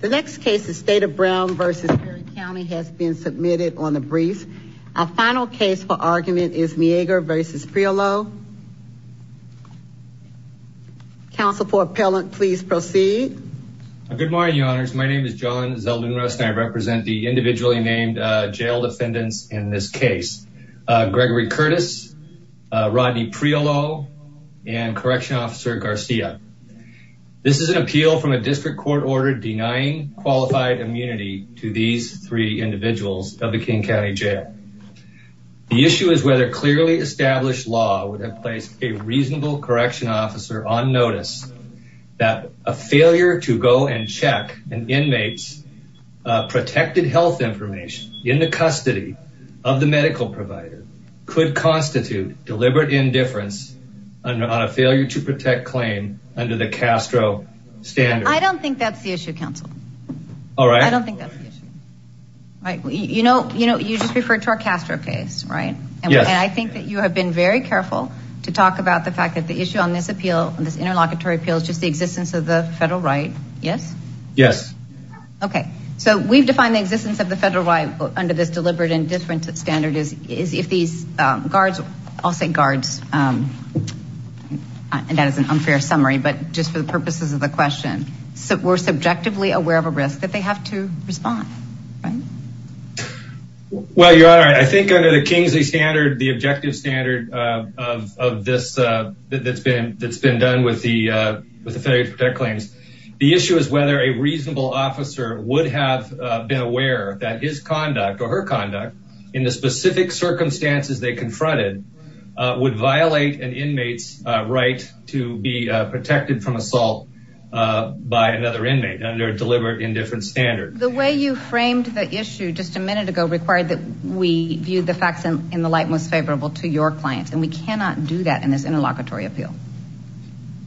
The next case is State of Brown v. Perry County has been submitted on the briefs. Our final case for argument is Meagher v. Prioleau. Counsel for appellant, please proceed. Good morning, your honors. My name is John Zeldin-Rust and I represent the individually named jail defendants in this case. Gregory Curtis, Rodney Prioleau, and Correctional Officer Garcia. This is an appeal from a district court order denying qualified immunity to these three individuals of the King County Jail. The issue is whether clearly established law would have placed a reasonable correction officer on notice that a failure to go and check an inmate's protected health information in the custody of the medical provider could constitute deliberate indifference on a failure to counsel. All right. I don't think that's the issue. All right. You know, you know, you just referred to our Castro case, right? Yes. And I think that you have been very careful to talk about the fact that the issue on this appeal and this interlocutory appeal is just the existence of the federal right. Yes. Yes. Okay. So we've defined the existence of the federal right under this deliberate indifference standard is if these guards, I'll say guards, um, and that is an unfair summary, but just for the purposes of the question, so we're subjectively aware of a risk that they have to respond, right? Well, your honor, I think under the Kingsley standard, the objective standard, uh, of, of this, uh, that that's been, that's been done with the, uh, with the failure to protect claims. The issue is whether a reasonable officer would have been aware that his conduct or her conduct in the specific circumstances they confronted, uh, would violate an inmate's, uh, right to be, uh, protected from assault, uh, by another inmate under deliberate indifference standard. The way you framed the issue just a minute ago required that we viewed the facts in the light, most favorable to your clients. And we cannot do that in this interlocutory appeal.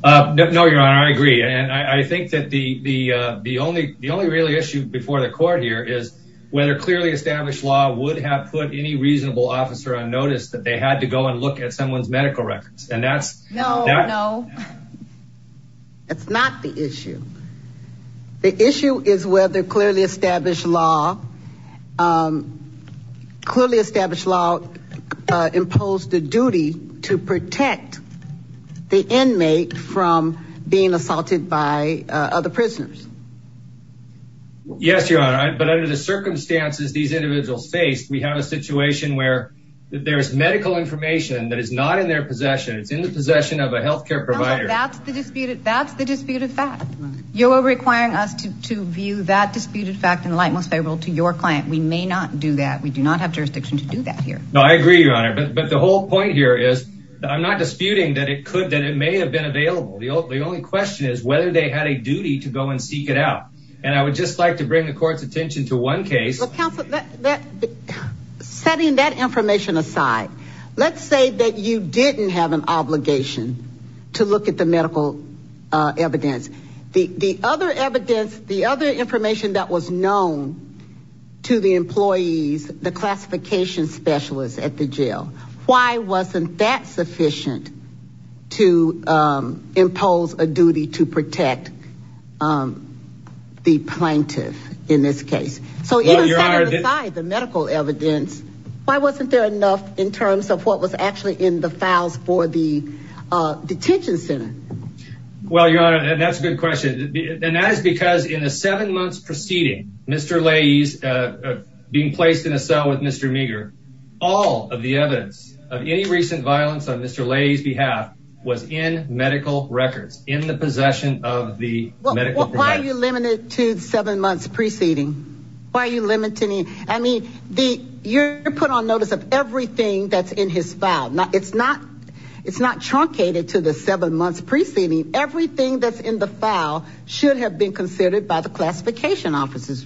Uh, no, no, your honor. I agree. And I think that the, the, uh, the only, the only really issue before the court here is whether clearly established law would have put any reasonable officer on notice that they had to go and look at someone's medical records. And that's, that's not the issue. The issue is whether clearly established law, um, clearly established law, uh, imposed the duty to protect the inmate from being assaulted by, uh, other prisoners. Yes, your honor. But under the circumstances, these individuals faced, we have a situation where there's medical information that is not in their possession. It's in the possession of a healthcare provider. That's the disputed, that's the disputed fact. You are requiring us to, to view that disputed fact in the light, most favorable to your client. We may not do that. We do not have jurisdiction to do that here. No, I agree, your honor. But, but the whole point here is I'm not disputing that it could, that it may have been available. The only question is whether they had a duty to go and seek it out. And I would just like to bring the court's attention to one case. Setting that information aside, let's say that you didn't have an obligation to look at the medical, uh, evidence, the, the other evidence, the other information that was known to the employees, the classification specialists at the jail, why wasn't that sufficient to, um, impose a duty to protect, um, the plaintiff in this case? So the medical evidence, why wasn't there enough in terms of what was actually in the files for the, uh, detention center? Well, your honor, and that's a good question. And that is because in a seven months proceeding, Mr. Lay's, uh, being placed in a cell with Mr. Meager, all of the evidence of any recent violence on Mr. Lay's behalf was in medical records in the possession of the medical. Why are you limited to seven months preceding? Why are you limiting? I mean, the, you're put on notice of everything that's in his file. Now it's not, it's not truncated to the seven months preceding everything that's in the file should have been considered by the classification offices.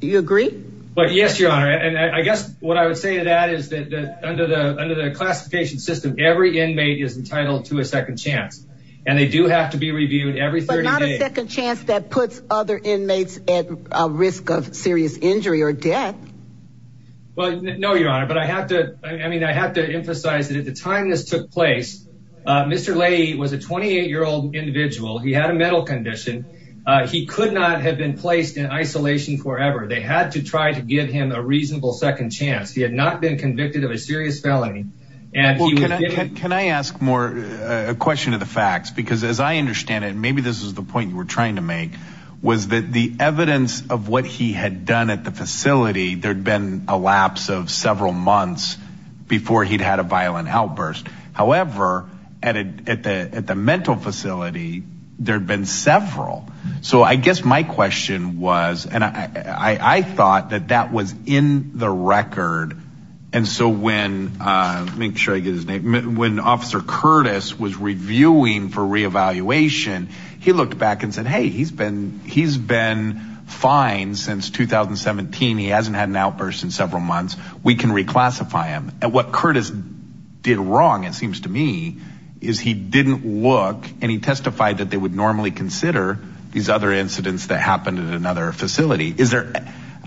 Do you agree? But yes, your honor. And I guess what I would say to that is that under the, under the classification system, every inmate is entitled to a second chance and they do have to be reviewed every 30 days. But not a second chance that puts other inmates at risk of serious injury or death. Well, no, your honor. But I have to, I mean, I have to emphasize that at the time this took place, uh, Mr. Lay was a 28 year old individual. He had a mental condition. Uh, he could not have been placed in isolation forever. They had to try to give him a reasonable second chance. He had not been convicted of a serious felony. Can I ask more a question of the facts? Because as I understand it, maybe this was the point you were trying to make was that the evidence of what he had done at the facility, there'd been a lapse of several months before he'd had a violent outburst. However, at the, at the mental facility, there'd been several. So I guess my question was, and I, I thought that that was in the record. And so when, uh, make sure I get his name. When officer Curtis was reviewing for reevaluation, he looked back and said, Hey, he's been, he's been fine since 2017. He hasn't had an outburst in several months. We can reclassify him at what Curtis did wrong. It seems to me is he didn't look and he testified that they would normally consider these other incidents that happened at another facility. Is there,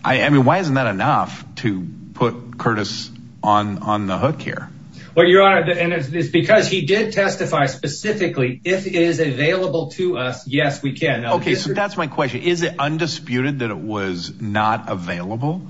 I mean, why isn't that enough to put Curtis on, on the hook here? Well, your honor, and it's because he did testify specifically if it is available to us. Yes, we can. Okay. So that's my question. Is it undisputed that it was not available?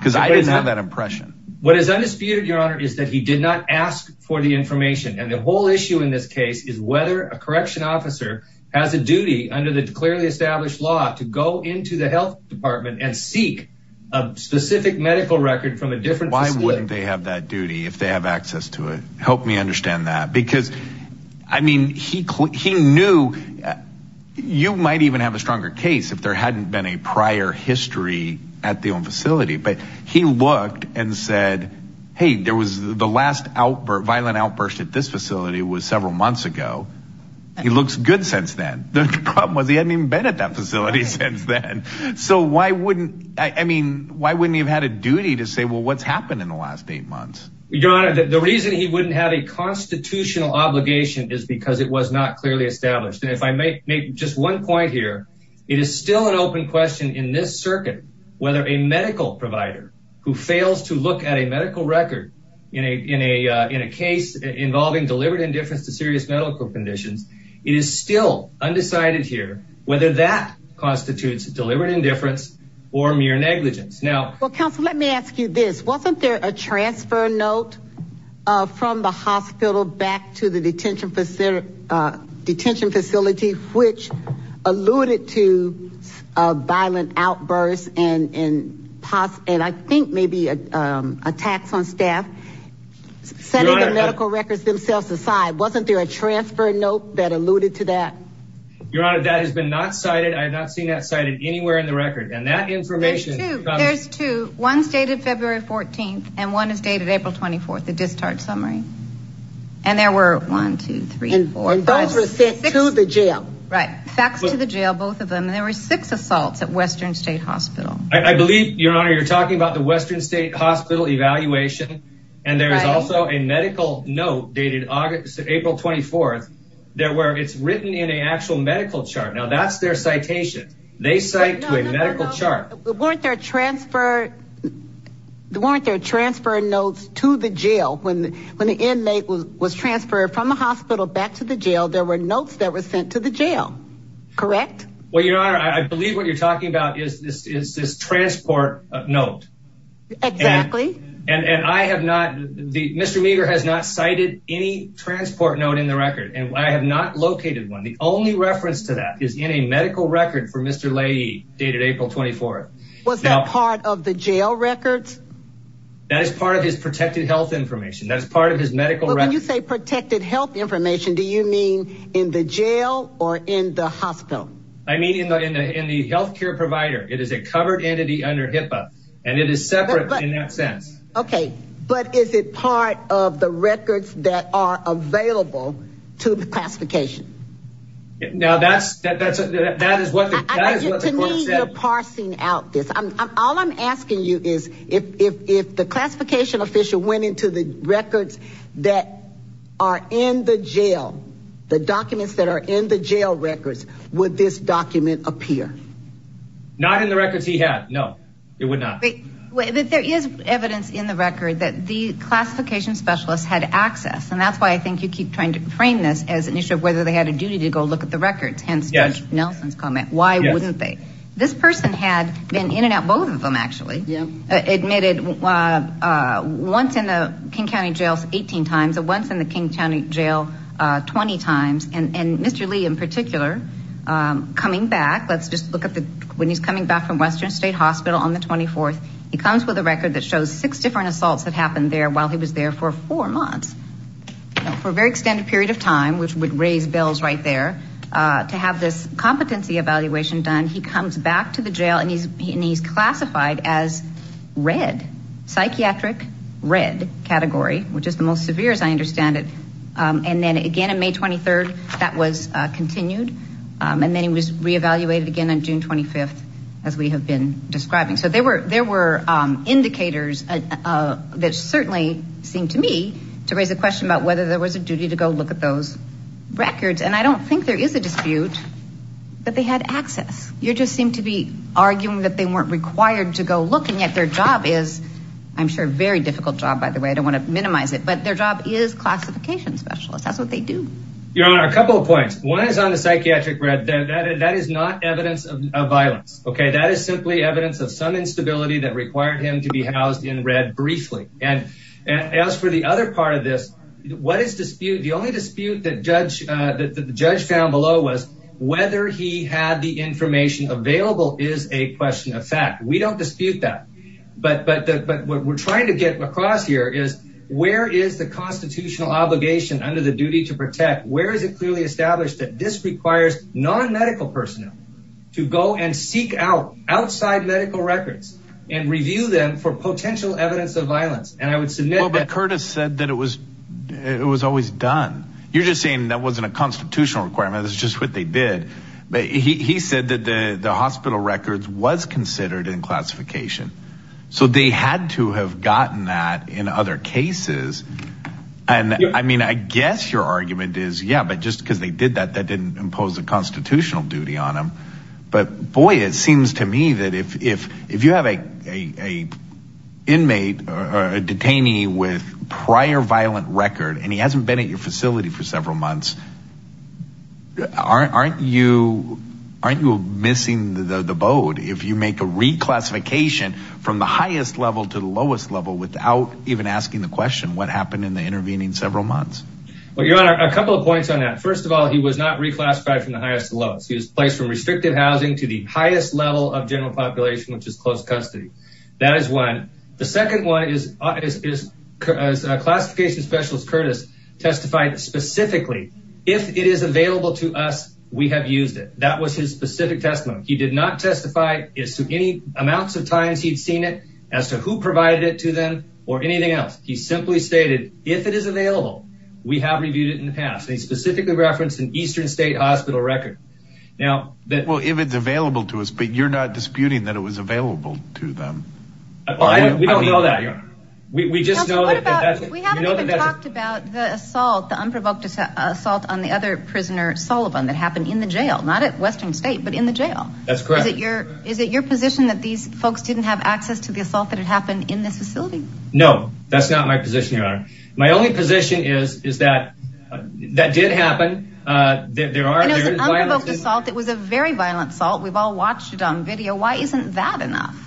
Cause I didn't have that impression. What is undisputed your honor is that he did not ask for the information. And the whole issue in this case is whether a correction officer has a duty under the clearly established law to go into the health department and seek a specific medical record from a different facility. They have that duty. If they have access to it, help me understand that because I mean, he, he knew you might even have a stronger case if there hadn't been a prior history at the own facility, but he looked and said, Hey, there was the last outburst violent outburst at this facility was several months ago. He looks good since then. The problem was he hadn't even been at that facility since then. So why wouldn't, I mean, why wouldn't he have had a duty to say, well, what's happened in the last eight months? Your honor, the reason he wouldn't have a constitutional obligation is because it was not clearly established. And if I may make just one point here, it is still an open question in this circuit, whether a medical provider who fails to look at a medical record in a, in a, in a case involving deliberate indifference to serious medical conditions, it is still undecided here, whether that constitutes deliberate indifference or mere negligence. Now, let me ask you this. Wasn't there a transfer note from the hospital back to the detention facility, uh, detention facility, which alluded to a violent outburst and, and possibly, and I think maybe, um, attacks on staff setting the medical records themselves aside. Wasn't there a transfer note that alluded to that? Your honor, that has been not cited. I have not seen that cited anywhere in the record and that information. There's two, one's dated February 14th and one is dated April 24th, the discharge summary. And there were 1, 2, 3, 4, 5, 6. And those were sent to the jail. Right. Faxed to the jail, both of them. And there were six assaults at Western state hospital. I believe your honor, you're talking about the Western state hospital evaluation. And there is also a medical note dated August to April 24th. There were, it's written in a actual medical chart. Now that's their citation. They cite to a medical chart. Weren't there transfer, weren't there transfer notes to the jail when, when the inmate was transferred from the hospital back to the jail, there were notes that were sent to the jail, correct? Well, your honor, I believe what you're talking about is this, is this transport note. Exactly. And, and I have not, the Mr. Meagher has not cited any transport note in the record and I have not located one. The only reference to that is in a medical record for Mr. Leahy dated April 24th. Was that part of the jail records? That is part of his protected health information. That's part of his medical record. When you say protected health information, do you mean in the jail or in the hospital? I mean, in the, in the, in the healthcare provider, it is a covered entity under HIPAA and it is separate in that sense. Okay. But is it part of the records that are available to the classification? Now that's, that's, that is what the court said. To me, you're parsing out this. I'm, I'm, all I'm asking you is if, if, if the classification official went into the records that are in the jail, the documents that are in the jail records, would this document appear? Not in the records he had. No, it would not. Wait, but there is evidence in the record that the classification specialists had access. And that's why I think you keep trying to frame this as an issue of whether they had a duty to go look at the records. Hence Judge Nelson's comment, why wouldn't they? This person had been in and out. Both of them actually admitted once in the King County jails, 18 times at once in the King County jail, 20 times. And, and Mr. Lee in particular, coming back, let's just look at the, when he's coming back from Western state hospital on the 24th, he comes with a record that shows six different assaults that happened there while he was there for four months for a very extended period of time, which would raise bills right there to have this competency evaluation done. He comes back to the jail and he's, and he's classified as red, psychiatric red category, which is the most severe as I understand it. And then again, in May 23rd, that was continued. And then he was reevaluated again on June 25th, as we have been describing. So there were, there were indicators that certainly seem to me to raise a question about whether there was a duty to go look at those records. And I don't think there is a dispute that they had access. You just seem to be arguing that they weren't required to go look and yet their job is, I'm sure very difficult job by the way, I don't want to minimize it, but their job is classification specialist. That's what they do. Your Honor, a couple of points. One is on the psychiatric red. That is not evidence of violence. Okay. That is simply evidence of some instability that required him to be housed in red briefly. And as for the other part of this, what is dispute? The only dispute that judge, that the judge found below was whether he had the information available is a question of fact, we don't dispute that, but, but, but what we're trying to get across here is where is the constitutional obligation under the duty to protect? Where is it clearly established that this requires non-medical personnel to go and seek out outside medical records and review them for potential evidence of violence. And I would Curtis said that it was, it was always done. You're just saying that wasn't a constitutional requirement. That's just what they did. But he said that the hospital records was considered in classification. So they had to have gotten that in other cases. And I mean, I guess your argument is yeah, but just because they did that, that didn't impose a constitutional duty on them. But boy, it seems to me that if, if, if you have a, a, a inmate or a detainee with prior violent record, and he hasn't been at your facility for several months, aren't, aren't you, aren't you missing the boat? If you make a reclassification from the highest level to the lowest level, without even asking the question, what happened in the intervening several months? Well, you're on a couple of points on that. First of all, he was not reclassified from the highest to lowest. He was placed from restrictive housing to the highest level of general population, which is close custody. That is one. The second one is, is, is a classification specialist. Curtis testified specifically. If it is available to us, we have used it. That was his specific testimony. He did not testify is to any amounts of times he'd seen it as to who provided it to them or anything else. He simply stated, if it is available, we have reviewed it in the past. He specifically referenced an Eastern state hospital record. Now that, well, if it's available to us, but you're not disputing that it was available to them. We don't know that. We just know that we haven't even talked about the assault, the unprovoked assault on the other prisoner Sullivan that happened in the jail, not at Western state, but in the jail. That's correct. Is it your, is it your position that these folks didn't have access to the assault that had happened in this facility? No, that's not my position. Your honor. My only position is, is that that did happen. Uh, there are, it was a very violent salt. We've all watched it on video. Why isn't that enough?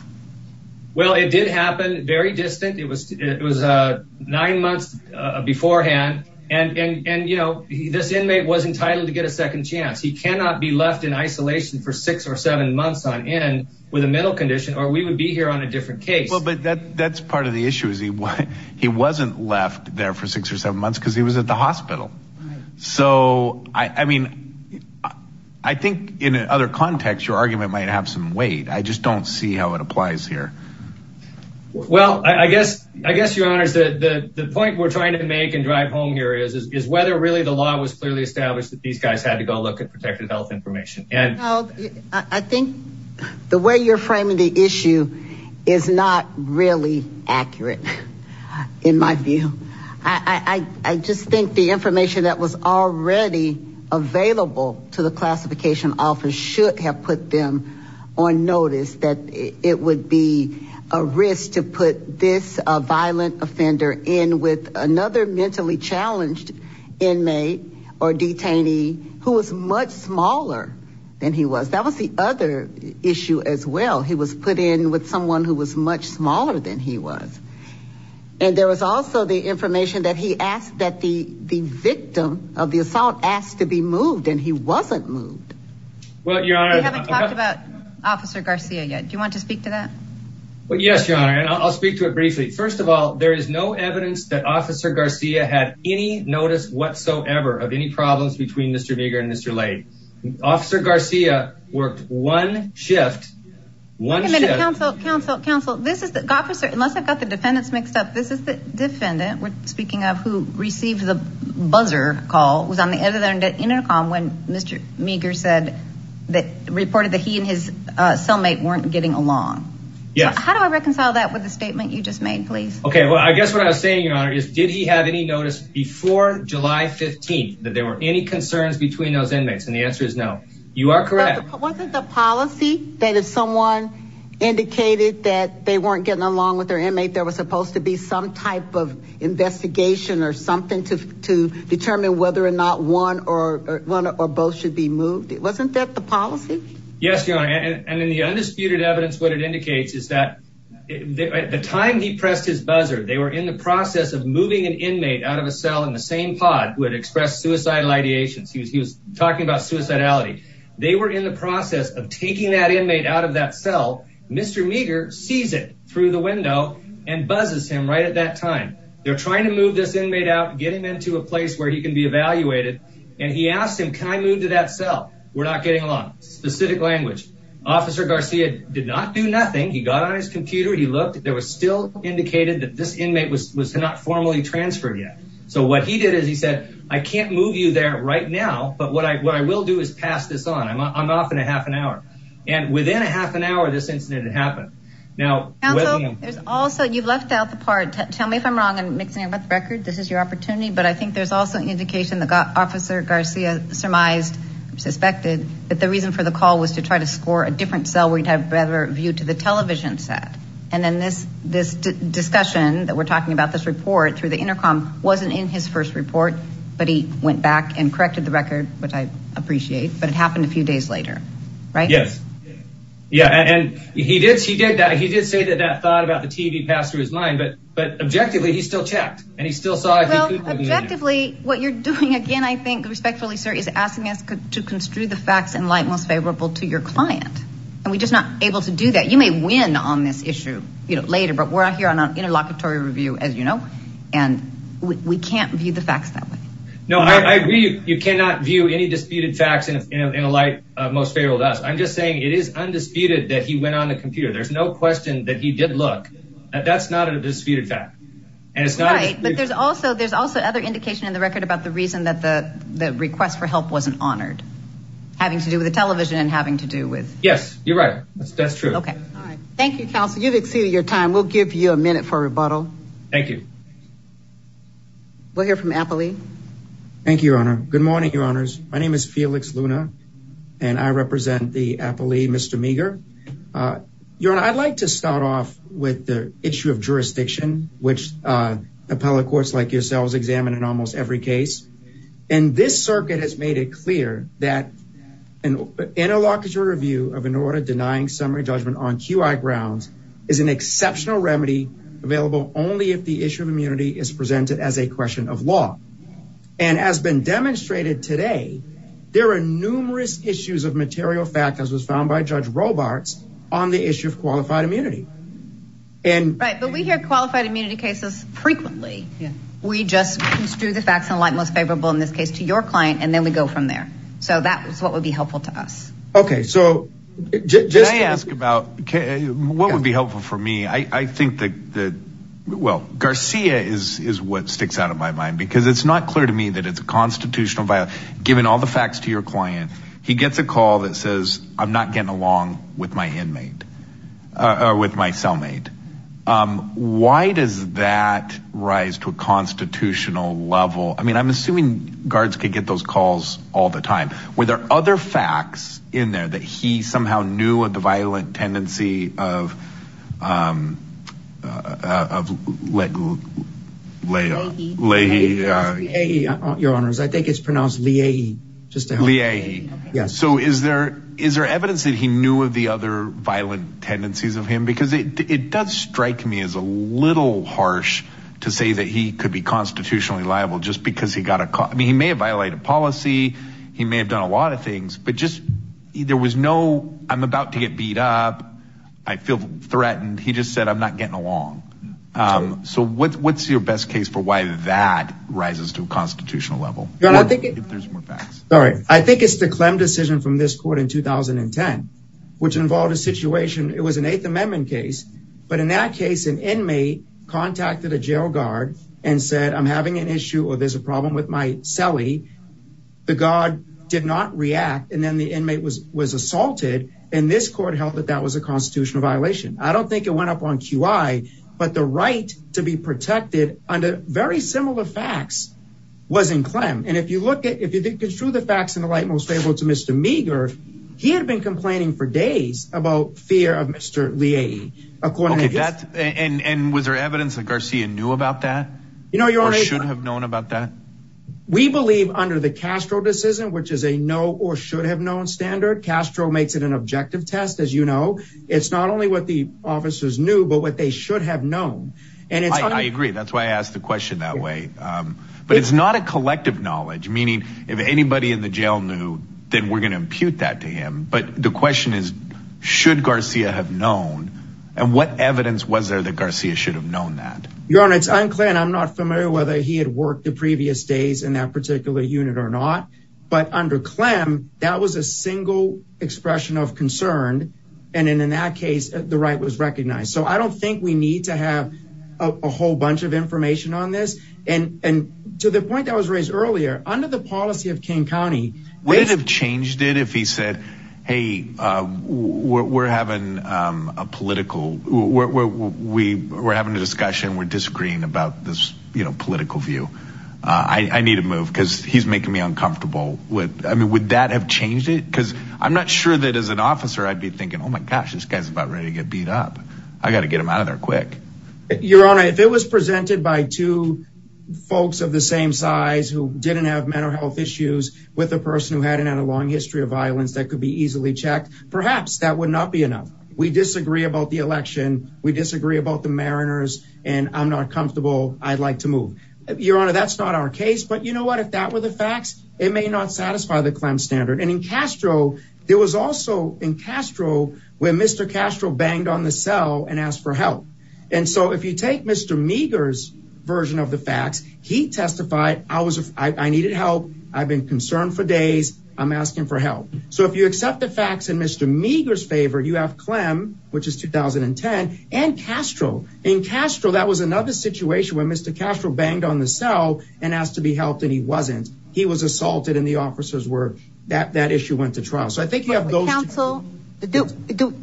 Well, it did happen very distant. It was, it was, uh, nine months, uh, beforehand. And, and, and, you know, this inmate was entitled to get a second chance. He cannot be left in isolation for six or seven months on end with a mental condition, or we would be here on a case. Well, but that that's part of the issue is he, he wasn't left there for six or seven months because he was at the hospital. So, I mean, I think in other contexts, your argument might have some weight. I just don't see how it applies here. Well, I guess, I guess your honor is that the point we're trying to make and drive home here is, is, is whether really the law was clearly established that these guys had to go look at protected health information. And I think the you're framing the issue is not really accurate in my view. I, I, I just think the information that was already available to the classification office should have put them on notice that it would be a risk to put this, a violent offender in with another mentally challenged inmate or detainee who was much smaller than he was. That was the other issue as well. He was put in with someone who was much smaller than he was. And there was also the information that he asked that the, the victim of the assault asked to be moved and he wasn't moved. Well, your honor, we haven't talked about officer Garcia yet. Do you want to speak to that? Well, yes, your honor. And I'll speak to it briefly. First of all, there is no evidence that officer Garcia had any notice whatsoever of any problems between Mr. Meagher and Mr. Lay. Officer Garcia worked one shift, one shift. Counsel, counsel, counsel, this is the officer, unless I've got the defendants mixed up, this is the defendant we're speaking of who received the buzzer call was on the other end intercom when Mr. Meagher said that reported that he and his cellmate weren't getting along. Yes. How do I reconcile that with the statement you just made, please? Okay. Well, I guess what I was saying, your honor, is did he have any notice before July 15th, that there were any concerns between those inmates? And the answer is no, you are correct. Wasn't the policy that if someone indicated that they weren't getting along with their inmate, there was supposed to be some type of investigation or something to, to determine whether or not one or one or both should be moved. Wasn't that the policy? Yes, your honor. And in the undisputed evidence, what it indicates is that at the time he pressed his buzzer, they were in the process of moving an inmate out of a cell in the same pod who had expressed suicidal ideations. He was, he was talking about suicidality. They were in the process of taking that inmate out of that cell. Mr. Meagher sees it through the window and buzzes him right at that time. They're trying to move this inmate out, get him into a place where he can be evaluated. And he asked him, can I move to that cell? We're not getting along. Specific language. Officer Garcia did not do nothing. He got on his computer. He looked, there was still indicated that this inmate was not formally transferred yet. So what he did is he said, I can't move you there right now. But what I, what I will do is pass this on. I'm off in a half an hour. And within a half an hour, this incident had happened. Now, there's also, you've left out the part. Tell me if I'm wrong. I'm mixing up the record. This is your opportunity. But I think there's also an indication that got officer Garcia surmised, suspected that the reason for the call was to try to score a different cell. We'd have better view to the television set. And then this, this discussion that we're talking about, this report through the intercom wasn't in his first report, but he went back and corrected the record, which I appreciate, but it happened a few days later, right? Yes. Yeah. And he did, he did that. He did say that that thought about the TV passed through his mind, but, but objectively he still checked and he still saw. Objectively what you're doing again, I think respectfully, sir, is asking us to construe the facts in light, most favorable to your client. And we just not able to do that. You may win on this issue, you know, later, but we're out here on an interlocutory review, as you know, and we can't view the facts that way. No, I agree. You cannot view any disputed facts in a light most favorable to us. I'm just saying it is undisputed that he went on the computer. There's no question that he did look at that's not a disputed fact. And it's not, but there's also, there's also other indication in the record about the reason that the, the request for help wasn't honored having to do with the television and having to do with, yes, you're right. That's true. Okay. All right. Thank you, counsel. You've exceeded your time. We'll give you a minute for rebuttal. Thank you. We'll hear from Appley. Thank you, Your Honor. Good morning, Your Honors. My name is Felix Luna and I represent the Appley, Mr. Meagher. Your Honor, I'd like to start off with the issue of jurisdiction, which appellate courts like yourselves examine in almost every case. And this circuit has made it clear that an interlocutory review of an order denying summary judgment on QI grounds is an exceptional remedy available only if the issue of immunity is presented as a question of law. And as been demonstrated today, there are numerous issues of material fact, as was found by Judge Robarts on the issue of qualified immunity. Right, but we hear qualified immunity cases frequently. We just construe the facts in light most favorable in this case to your client, and then we go from there. So that's what would be helpful to us. Okay. So just ask about what would be helpful for me. I think that, well, Garcia is what sticks out of my mind, because it's not clear to me that it's a constitutional violation. Given all the facts to your client, he gets a call that says, I'm not getting along with my inmate or with my cellmate. Why does that rise to a constitutional level? I mean, I'm assuming guards could get those calls all the time. Were there other facts in there that he somehow knew of the violent tendency of Leahy? I think it's pronounced Leahy. So is there evidence that he knew of the other violent tendencies of him? Because it does strike me as a little harsh to say that he could be constitutionally liable just because he got a call. I mean, he may have violated policy. He may have done a lot of things, but just there was no, I'm about to get beat up. I feel threatened. He just said, I'm not getting along. So what's your best case for why that rises to a constitutional level? Sorry, I think it's the Clem decision from this court in 2010, which involved a situation. It was an eighth amendment case. But in that case, an inmate contacted a jail guard and said, I'm having an issue, or there's a problem with my cellie. The guard did not react. And then the inmate was assaulted. And this court held that that was a constitutional violation. I don't think it went up on QI, but the right to be protected under very similar facts was in Clem. And if you look at, if you construe the facts in the light most favorable to Mr. Meagher, he had been complaining for days about fear of Mr. Leigh. According to that. And was there evidence that Garcia knew about that? You know, you should have known about that. We believe under the Castro decision, which is a no or should have known standard. Castro makes it an objective test. As you know, it's not only what the officers knew, but what they should have known. And I agree. That's why I asked the question that way. But it's not a collective knowledge, meaning if anybody in the jail knew, then we're going to impute that to him. But the question is, should Garcia have known? And what evidence was there that Garcia should have known that? Your Honor, it's unclear. And I'm not familiar whether he had worked the previous days in that particular unit or not. But under Clem, that was a single expression of concern. And in that case, the right was recognized. So I don't think we need to have a whole bunch of information on this. And to the point that was raised earlier, under the policy of King County. Would it have changed it if he said, hey, we're having a political, we're having a discussion, we're disagreeing about this political view. I need to move because he's making me uncomfortable with I mean, would that have changed it? Because I'm not sure that as an officer, I'd be thinking, oh, my gosh, this guy's about ready to get beat up. I got to get him out of there quick. Your Honor, if it was presented by two folks of the same size who didn't have mental health issues with a person who hadn't had a long history of violence that could be easily checked, perhaps that would not be enough. We disagree about the election. We disagree about the Mariners. And I'm not comfortable. I'd like to move. Your Honor, that's not our case. But you know what, if that were the facts, it may not satisfy the Clem standard. And in Castro, there was also in Castro where Mr. Castro banged on the cell and asked for help. And so if you take Mr. Meagher's version of the facts, he testified, I was I needed help. I've been concerned for days. I'm asking for help. So if you accept the facts in Mr. Meagher's favor, you have Clem, which is 2010 and Castro. In Castro, that was another situation where Mr. Castro banged on the cell and asked to be helped. And he wasn't. He was assaulted in the officer's that that issue went to trial. So I think you have those counsel. Do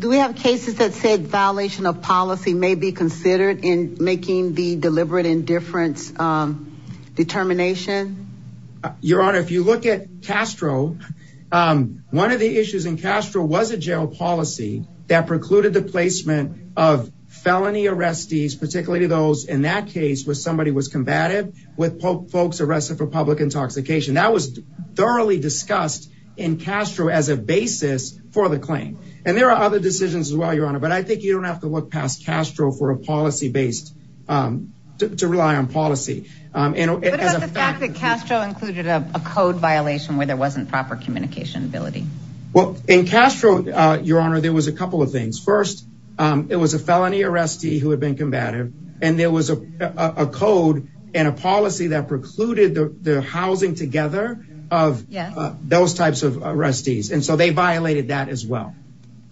we have cases that said violation of policy may be considered in making the deliberate indifference determination? Your Honor, if you look at Castro, one of the issues in Castro was a jail policy that precluded the placement of felony arrestees, particularly those in that case where somebody was combative with folks arrested for public intoxication. That was thoroughly discussed in Castro as a basis for the claim. And there are other decisions as well, Your Honor. But I think you don't have to look past Castro for a policy based to rely on policy and the fact that Castro included a code violation where there wasn't proper communication ability. Well, in Castro, Your Honor, there was a couple of things. First, it was a felony arrestee who had been combative and there was a code and a policy that precluded the housing together of those types of arrestees. And so they violated that as well.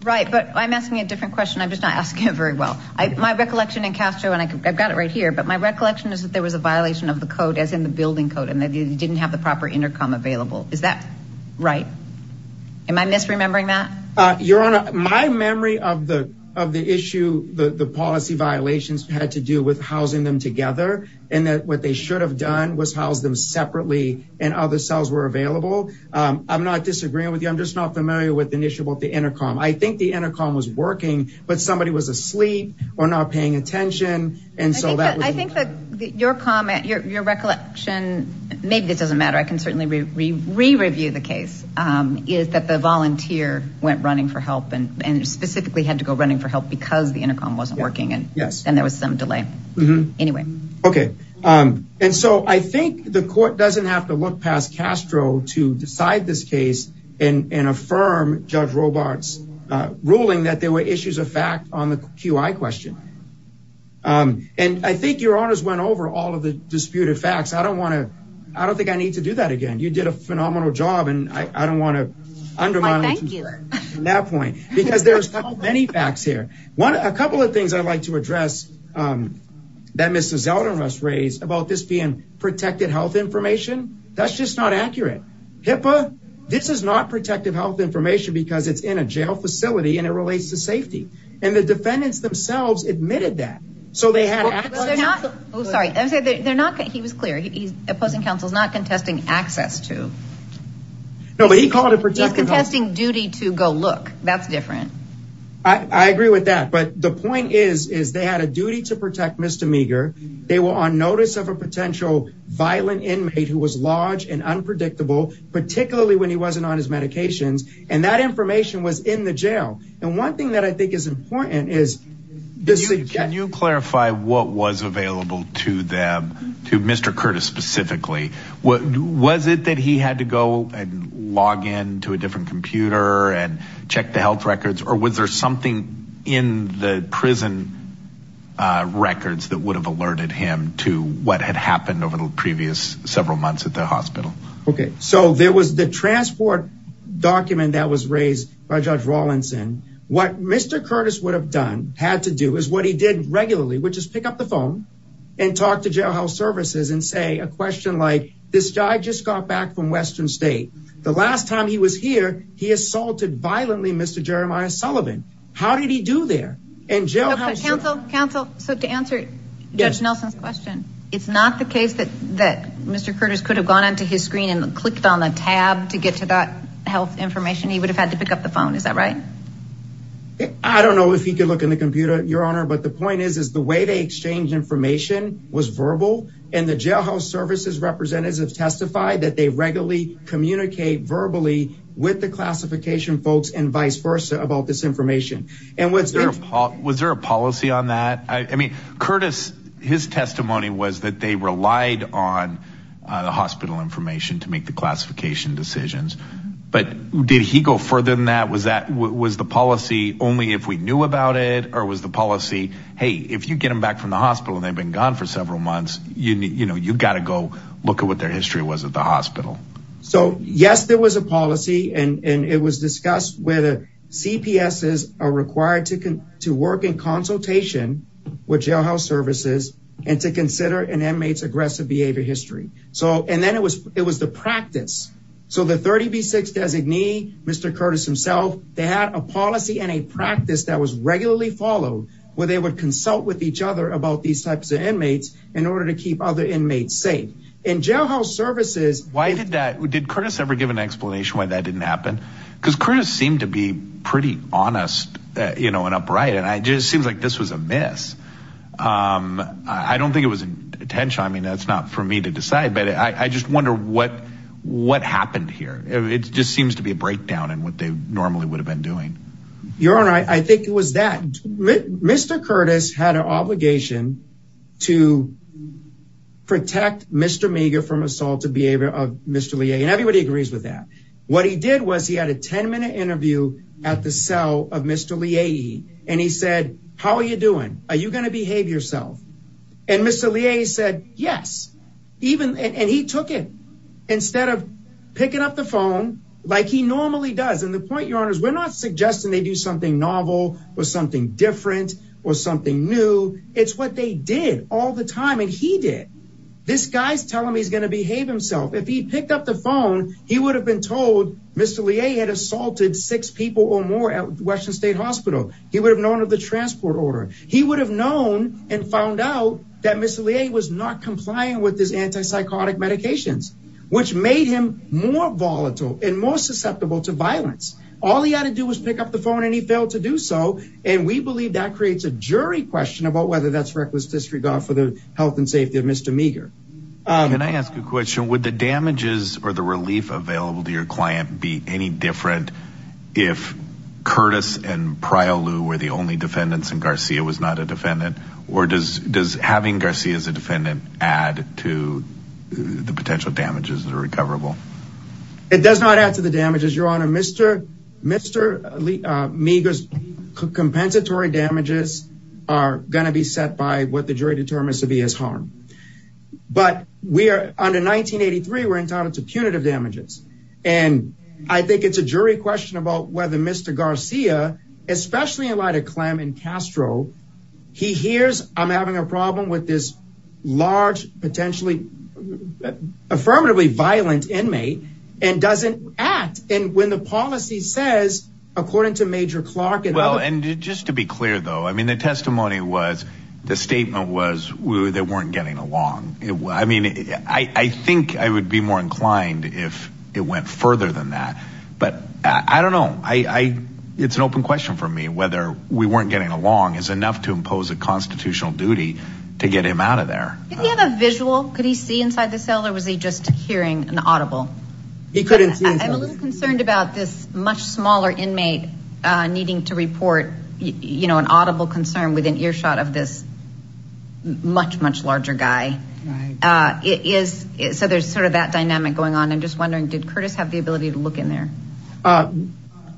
Right. But I'm asking a different question. I'm just not asking it very well. My recollection in Castro and I've got it right here, but my recollection is that there was a violation of the code as in the building code and that you didn't have the proper intercom available. Is that right? Am I misremembering that? Your Honor, my memory of the of the issue, the policy violations had to do with housing them together and that what they should have done was house them separately and other cells were available. I'm not disagreeing with you. I'm just not familiar with an issue about the intercom. I think the intercom was working, but somebody was asleep or not paying attention. And so that I think that your comment, your recollection, maybe it doesn't matter. I can certainly re-review the case is that the volunteer went running for help and specifically had to go running for help because the intercom wasn't working. And yes, and there was some delay anyway. Okay. And so I think the court doesn't have to look past Castro to decide this case and affirm Judge Robarts ruling that there were issues of fact on the QI question. And I think your honors went over all of the disputed facts. I don't want to, I don't think I need to do that again. You did a phenomenal job and I don't want to undermine that point because there's many facts here. One, a couple of things I'd like to address that Mr. Zeldin must raise about this being protected health information. That's just not accurate. HIPAA, this is not protective health information because it's in a jail facility and it relates to safety. And the defendants themselves admitted that. So they had, oh, sorry. I'm sorry. They're not, he was clear. He's opposing counsel's not contesting access to. No, but he called it protecting. He's contesting duty to go look. That's different. I agree with that. But the point is, is they had a duty to protect Mr. Meager. They were on notice of a potential violent inmate who was large and unpredictable, particularly when he wasn't on his medications. And that information was in the jail. And one thing that I think is important is. Can you clarify what was available to them, to Mr. Curtis specifically? Was it that he had to go log in to a different computer and check the health records? Or was there something in the prison records that would have alerted him to what had happened over the previous several months at the hospital? Okay. So there was the transport document that was raised by Judge Rawlinson. What Mr. Curtis would have done, had to do, is what he did regularly, which is pick up the phone and talk to jail health services and say a question like, this guy just got back from state. The last time he was here, he assaulted violently Mr. Jeremiah Sullivan. How did he do there? And jail. Counsel, counsel. So to answer Judge Nelson's question, it's not the case that that Mr. Curtis could have gone onto his screen and clicked on the tab to get to that health information. He would have had to pick up the phone. Is that right? I don't know if he could look in the computer, your honor. But the point is, is the way they exchange information was verbal and the jailhouse services representatives have testified that they regularly communicate verbally with the classification folks and vice versa about this information. Was there a policy on that? I mean, Curtis, his testimony was that they relied on the hospital information to make the classification decisions. But did he go further than that? Was that, was the policy only if we knew about it? Or was the policy, hey, if you get them back from the you know, you've got to go look at what their history was at the hospital. So yes, there was a policy and it was discussed where the CPSs are required to work in consultation with jailhouse services and to consider an inmate's aggressive behavior history. So, and then it was, it was the practice. So the 30B6 designee, Mr. Curtis himself, they had a policy and a practice that was regularly followed where they would consult with each other about these types of inmates in order to keep other inmates safe. In jailhouse services. Why did that, did Curtis ever give an explanation why that didn't happen? Because Curtis seemed to be pretty honest, you know, and upright. And it just seems like this was a mess. I don't think it was intentional. I mean, that's not for me to decide, but I just wonder what, what happened here. It just seems to be a breakdown in what they normally would have been doing. Your Honor, I think it was that Mr. Curtis had an obligation to protect Mr. Meager from assaultive behavior of Mr. Leahy. And everybody agrees with that. What he did was he had a 10 minute interview at the cell of Mr. Leahy. And he said, how are you doing? Are you going to behave yourself? And Mr. Leahy said, yes, even, and he took it instead of picking up the phone like he normally does. And the point you're on is we're not suggesting they do something novel or something different or something new. It's what they did all the time. And he did this guy's tell him he's going to behave himself. If he picked up the phone, he would have been told Mr. Leahy had assaulted six people or more at Western state hospital. He would have known of the transport order. He would have known and found out that Mr. Leahy was not complying with his antipsychotic medications, which made him more volatile and more susceptible to violence. All he had to do was pick up the phone and he failed to do so. And we believe that creates a jury question about whether that's reckless disregard for the health and safety of Mr. Meager. Can I ask a question? Would the damages or the relief available to your client be any different if Curtis and Pryor were the only defendants and as a defendant, add to the potential damages that are recoverable? It does not add to the damages, Your Honor. Mr. Meager's compensatory damages are going to be set by what the jury determines to be his harm. But we are under 1983, we're entitled to punitive damages. And I think it's a jury question about whether Mr. Garcia, especially in light of Clem and Castro, he hears, I'm having a problem with this large, potentially affirmatively violent inmate, and doesn't act. And when the policy says, according to Major Clark and... Well, and just to be clear, though, I mean, the testimony was, the statement was, they weren't getting along. I mean, I think I would be more inclined if it went further than that. But I don't know. It's an open question for me whether we weren't getting along is enough to impose a constitutional duty to get him out of there. Did he have a visual? Could he see inside the cell or was he just hearing an audible? He couldn't see. I'm a little concerned about this much smaller inmate needing to report an audible concern within earshot of this much, much larger guy. So there's sort of that dynamic going on. I'm just wondering, did Curtis have the ability to look in there?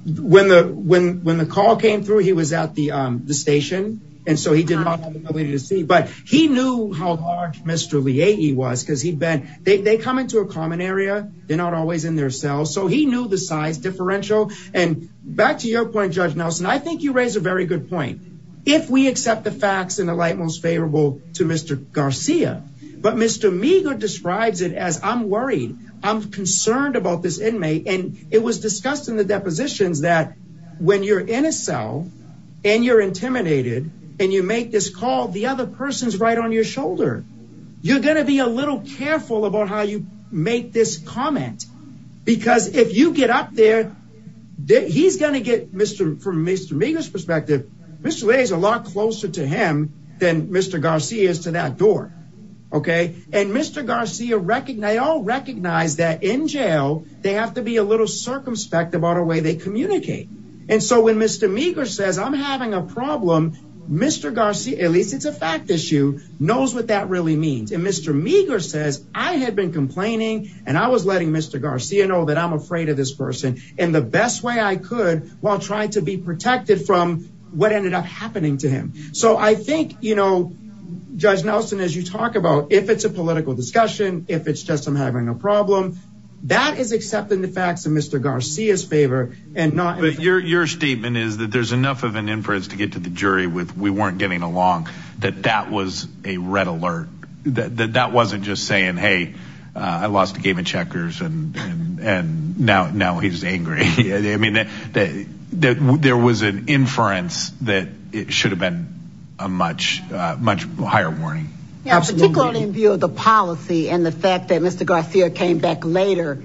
When the call came through, he was at the station, and so he did not have the ability to see. But he knew how large Mr. Leahy was because he'd been, they come into a common area. They're not always in their cells. So he knew the size differential. And back to your point, Judge Nelson, I think you raise a very good point. If we accept the facts in the light most favorable to Mr. Garcia, but Mr. Meagher describes it as, I'm worried, I'm concerned about this inmate. And it was discussed in the depositions that when you're in a cell, and you're intimidated, and you make this call, the other person's right on your shoulder. You're going to be a little careful about how you make this comment. Because if you get up there, he's going to get, from Mr. Meagher's perspective, Mr. Leahy is a lot closer to him than Mr. Garcia is to that door. And Mr. Garcia, they all recognize that in jail, they have to be a little circumspect about the way they communicate. And so when Mr. Meagher says, I'm having a problem, Mr. Garcia, at least it's a fact issue, knows what that really means. And Mr. Meagher says, I had been complaining, and I was letting Mr. Garcia know that I'm afraid of this person in the best way I could while trying to be protected from what ended up happening to him. So I think, Judge Nelson, as you talk about, if it's a political discussion, if it's just, I'm having a problem, that is accepting the facts in Mr. Garcia's favor and not- But your statement is that there's enough of an inference to get to the jury with, we weren't getting along, that that was a red alert. That wasn't just saying, hey, I lost a game of checkers, and now he's angry. I mean, there was an inference that it should have a much higher warning. Yeah, particularly in view of the policy and the fact that Mr. Garcia came back later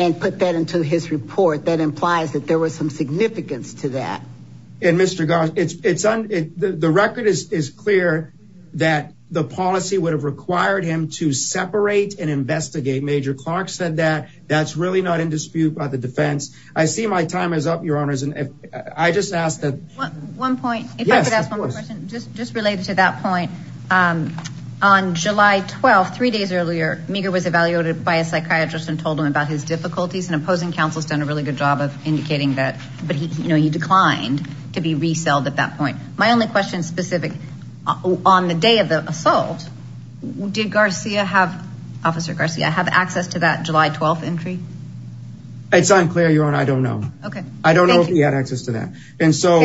and put that into his report, that implies that there was some significance to that. And Mr. Garcia, the record is clear that the policy would have required him to separate and investigate. Major Clark said that, that's really not in dispute by the defense. I see my time is up, Your Honors, and I just ask that- One point, if I could ask one more question, just related to that point. On July 12th, three days earlier, Meagher was evaluated by a psychiatrist and told him about his difficulties, and opposing counsel has done a really good job of indicating that, but he declined to be reselled at that point. My only question specific, on the day of the assault, did Garcia have, Officer Garcia, have access to that July 12th entry? It's unclear, Your Honor, I don't know. Okay. I don't know if he had access to that. And so,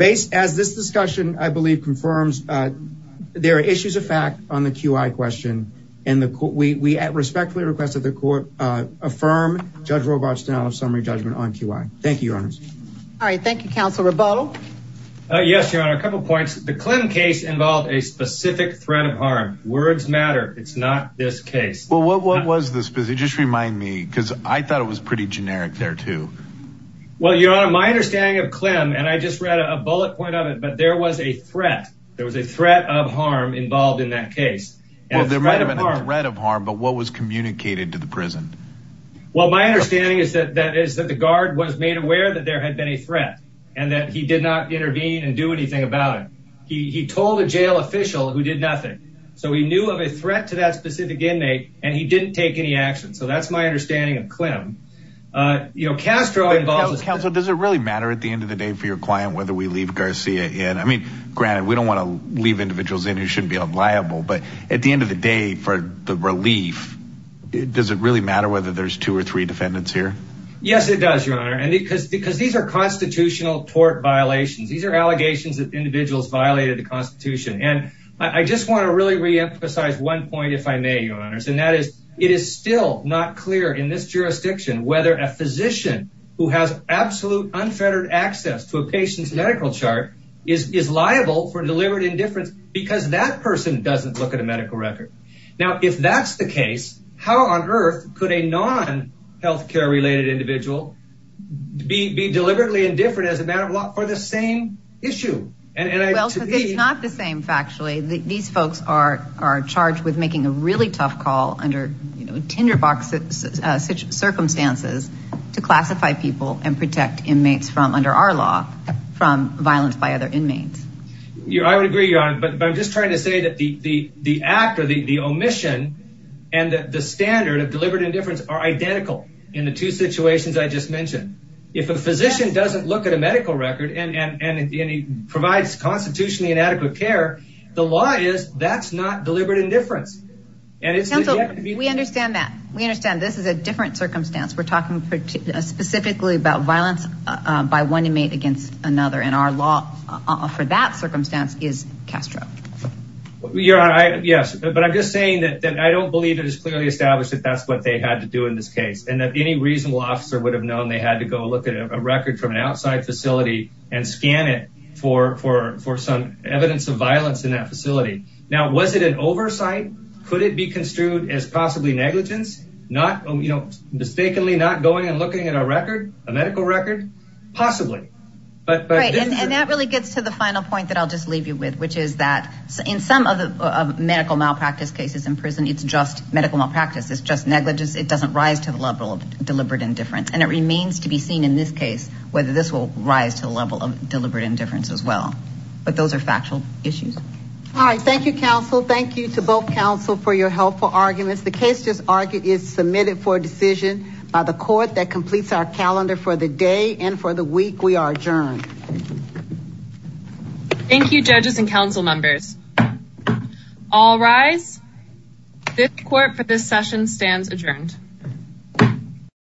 as this discussion, I believe, confirms, there are issues of fact on the QI question, and we respectfully request that the court affirm Judge Robach's denial of summary judgment on QI. Thank you, Your Honors. All right, thank you, Counsel Roboto. Yes, Your Honor, a couple of points. The Klim case involved a specific threat of harm. Words matter. It's not this case. Well, what was the specific? Just remind me, because I thought it was pretty generic there, too. Well, Your Honor, my understanding of Klim, and I just read a bullet point of it, but there was a threat. There was a threat of harm involved in that case. Well, there might have been a threat of harm, but what was communicated to the prison? Well, my understanding is that the guard was made aware that there had been a threat, and that he did not intervene and do anything about it. He told a jail official who did nothing. So, he knew of a threat to that specific inmate, and he didn't take any action. So, that's my understanding of Klim. You know, Castro involved... Counsel, does it really matter at the end of the day for your client whether we leave Garcia in? I mean, granted, we don't want to leave individuals in who shouldn't be unliable, but at the end of the day, for the relief, does it really matter whether there's two or three defendants here? Yes, it does, Your Honor, because these are constitutional tort violations. These are one point, if I may, Your Honors, and that is, it is still not clear in this jurisdiction whether a physician who has absolute unfettered access to a patient's medical chart is liable for deliberate indifference because that person doesn't look at a medical record. Now, if that's the case, how on earth could a non-healthcare-related individual be deliberately indifferent as a matter of law for the same issue? Well, because it's not the same, factually. These folks are charged with making a really tough call under, you know, tinderbox circumstances to classify people and protect inmates from, under our law, from violence by other inmates. I would agree, Your Honor, but I'm just trying to say that the act or the omission and the standard of deliberate indifference are identical in the two situations I just mentioned. If a physician doesn't look at a medical record and he provides constitutionally inadequate care, the law is that's not deliberate indifference. We understand that. We understand this is a different circumstance. We're talking specifically about violence by one inmate against another, and our law for that circumstance is Castro. Your Honor, yes, but I'm just saying that I don't believe it is clearly established that that's what they had to do in this case and that any reasonable officer would have known they had to go look at a record from an outside facility and scan it for some evidence of violence in that facility. Now, was it an oversight? Could it be construed as possibly negligence? Not, you know, mistakenly not going and looking at a record, a medical record? Possibly. Right, and that really gets to the final point that I'll just leave you with, which is that in some of the medical malpractice cases in prison, it's just medical malpractice. It's just negligence. It doesn't rise to the level of deliberate indifference, and it remains to be seen in this case whether this will rise to the level of deliberate indifference as well, but those are factual issues. All right, thank you, counsel. Thank you to both counsel for your helpful arguments. The case just argued is submitted for decision by the court that completes our calendar for the day and for the week. We are adjourned. Thank you, judges and council members. All rise. Fifth court for this session stands adjourned.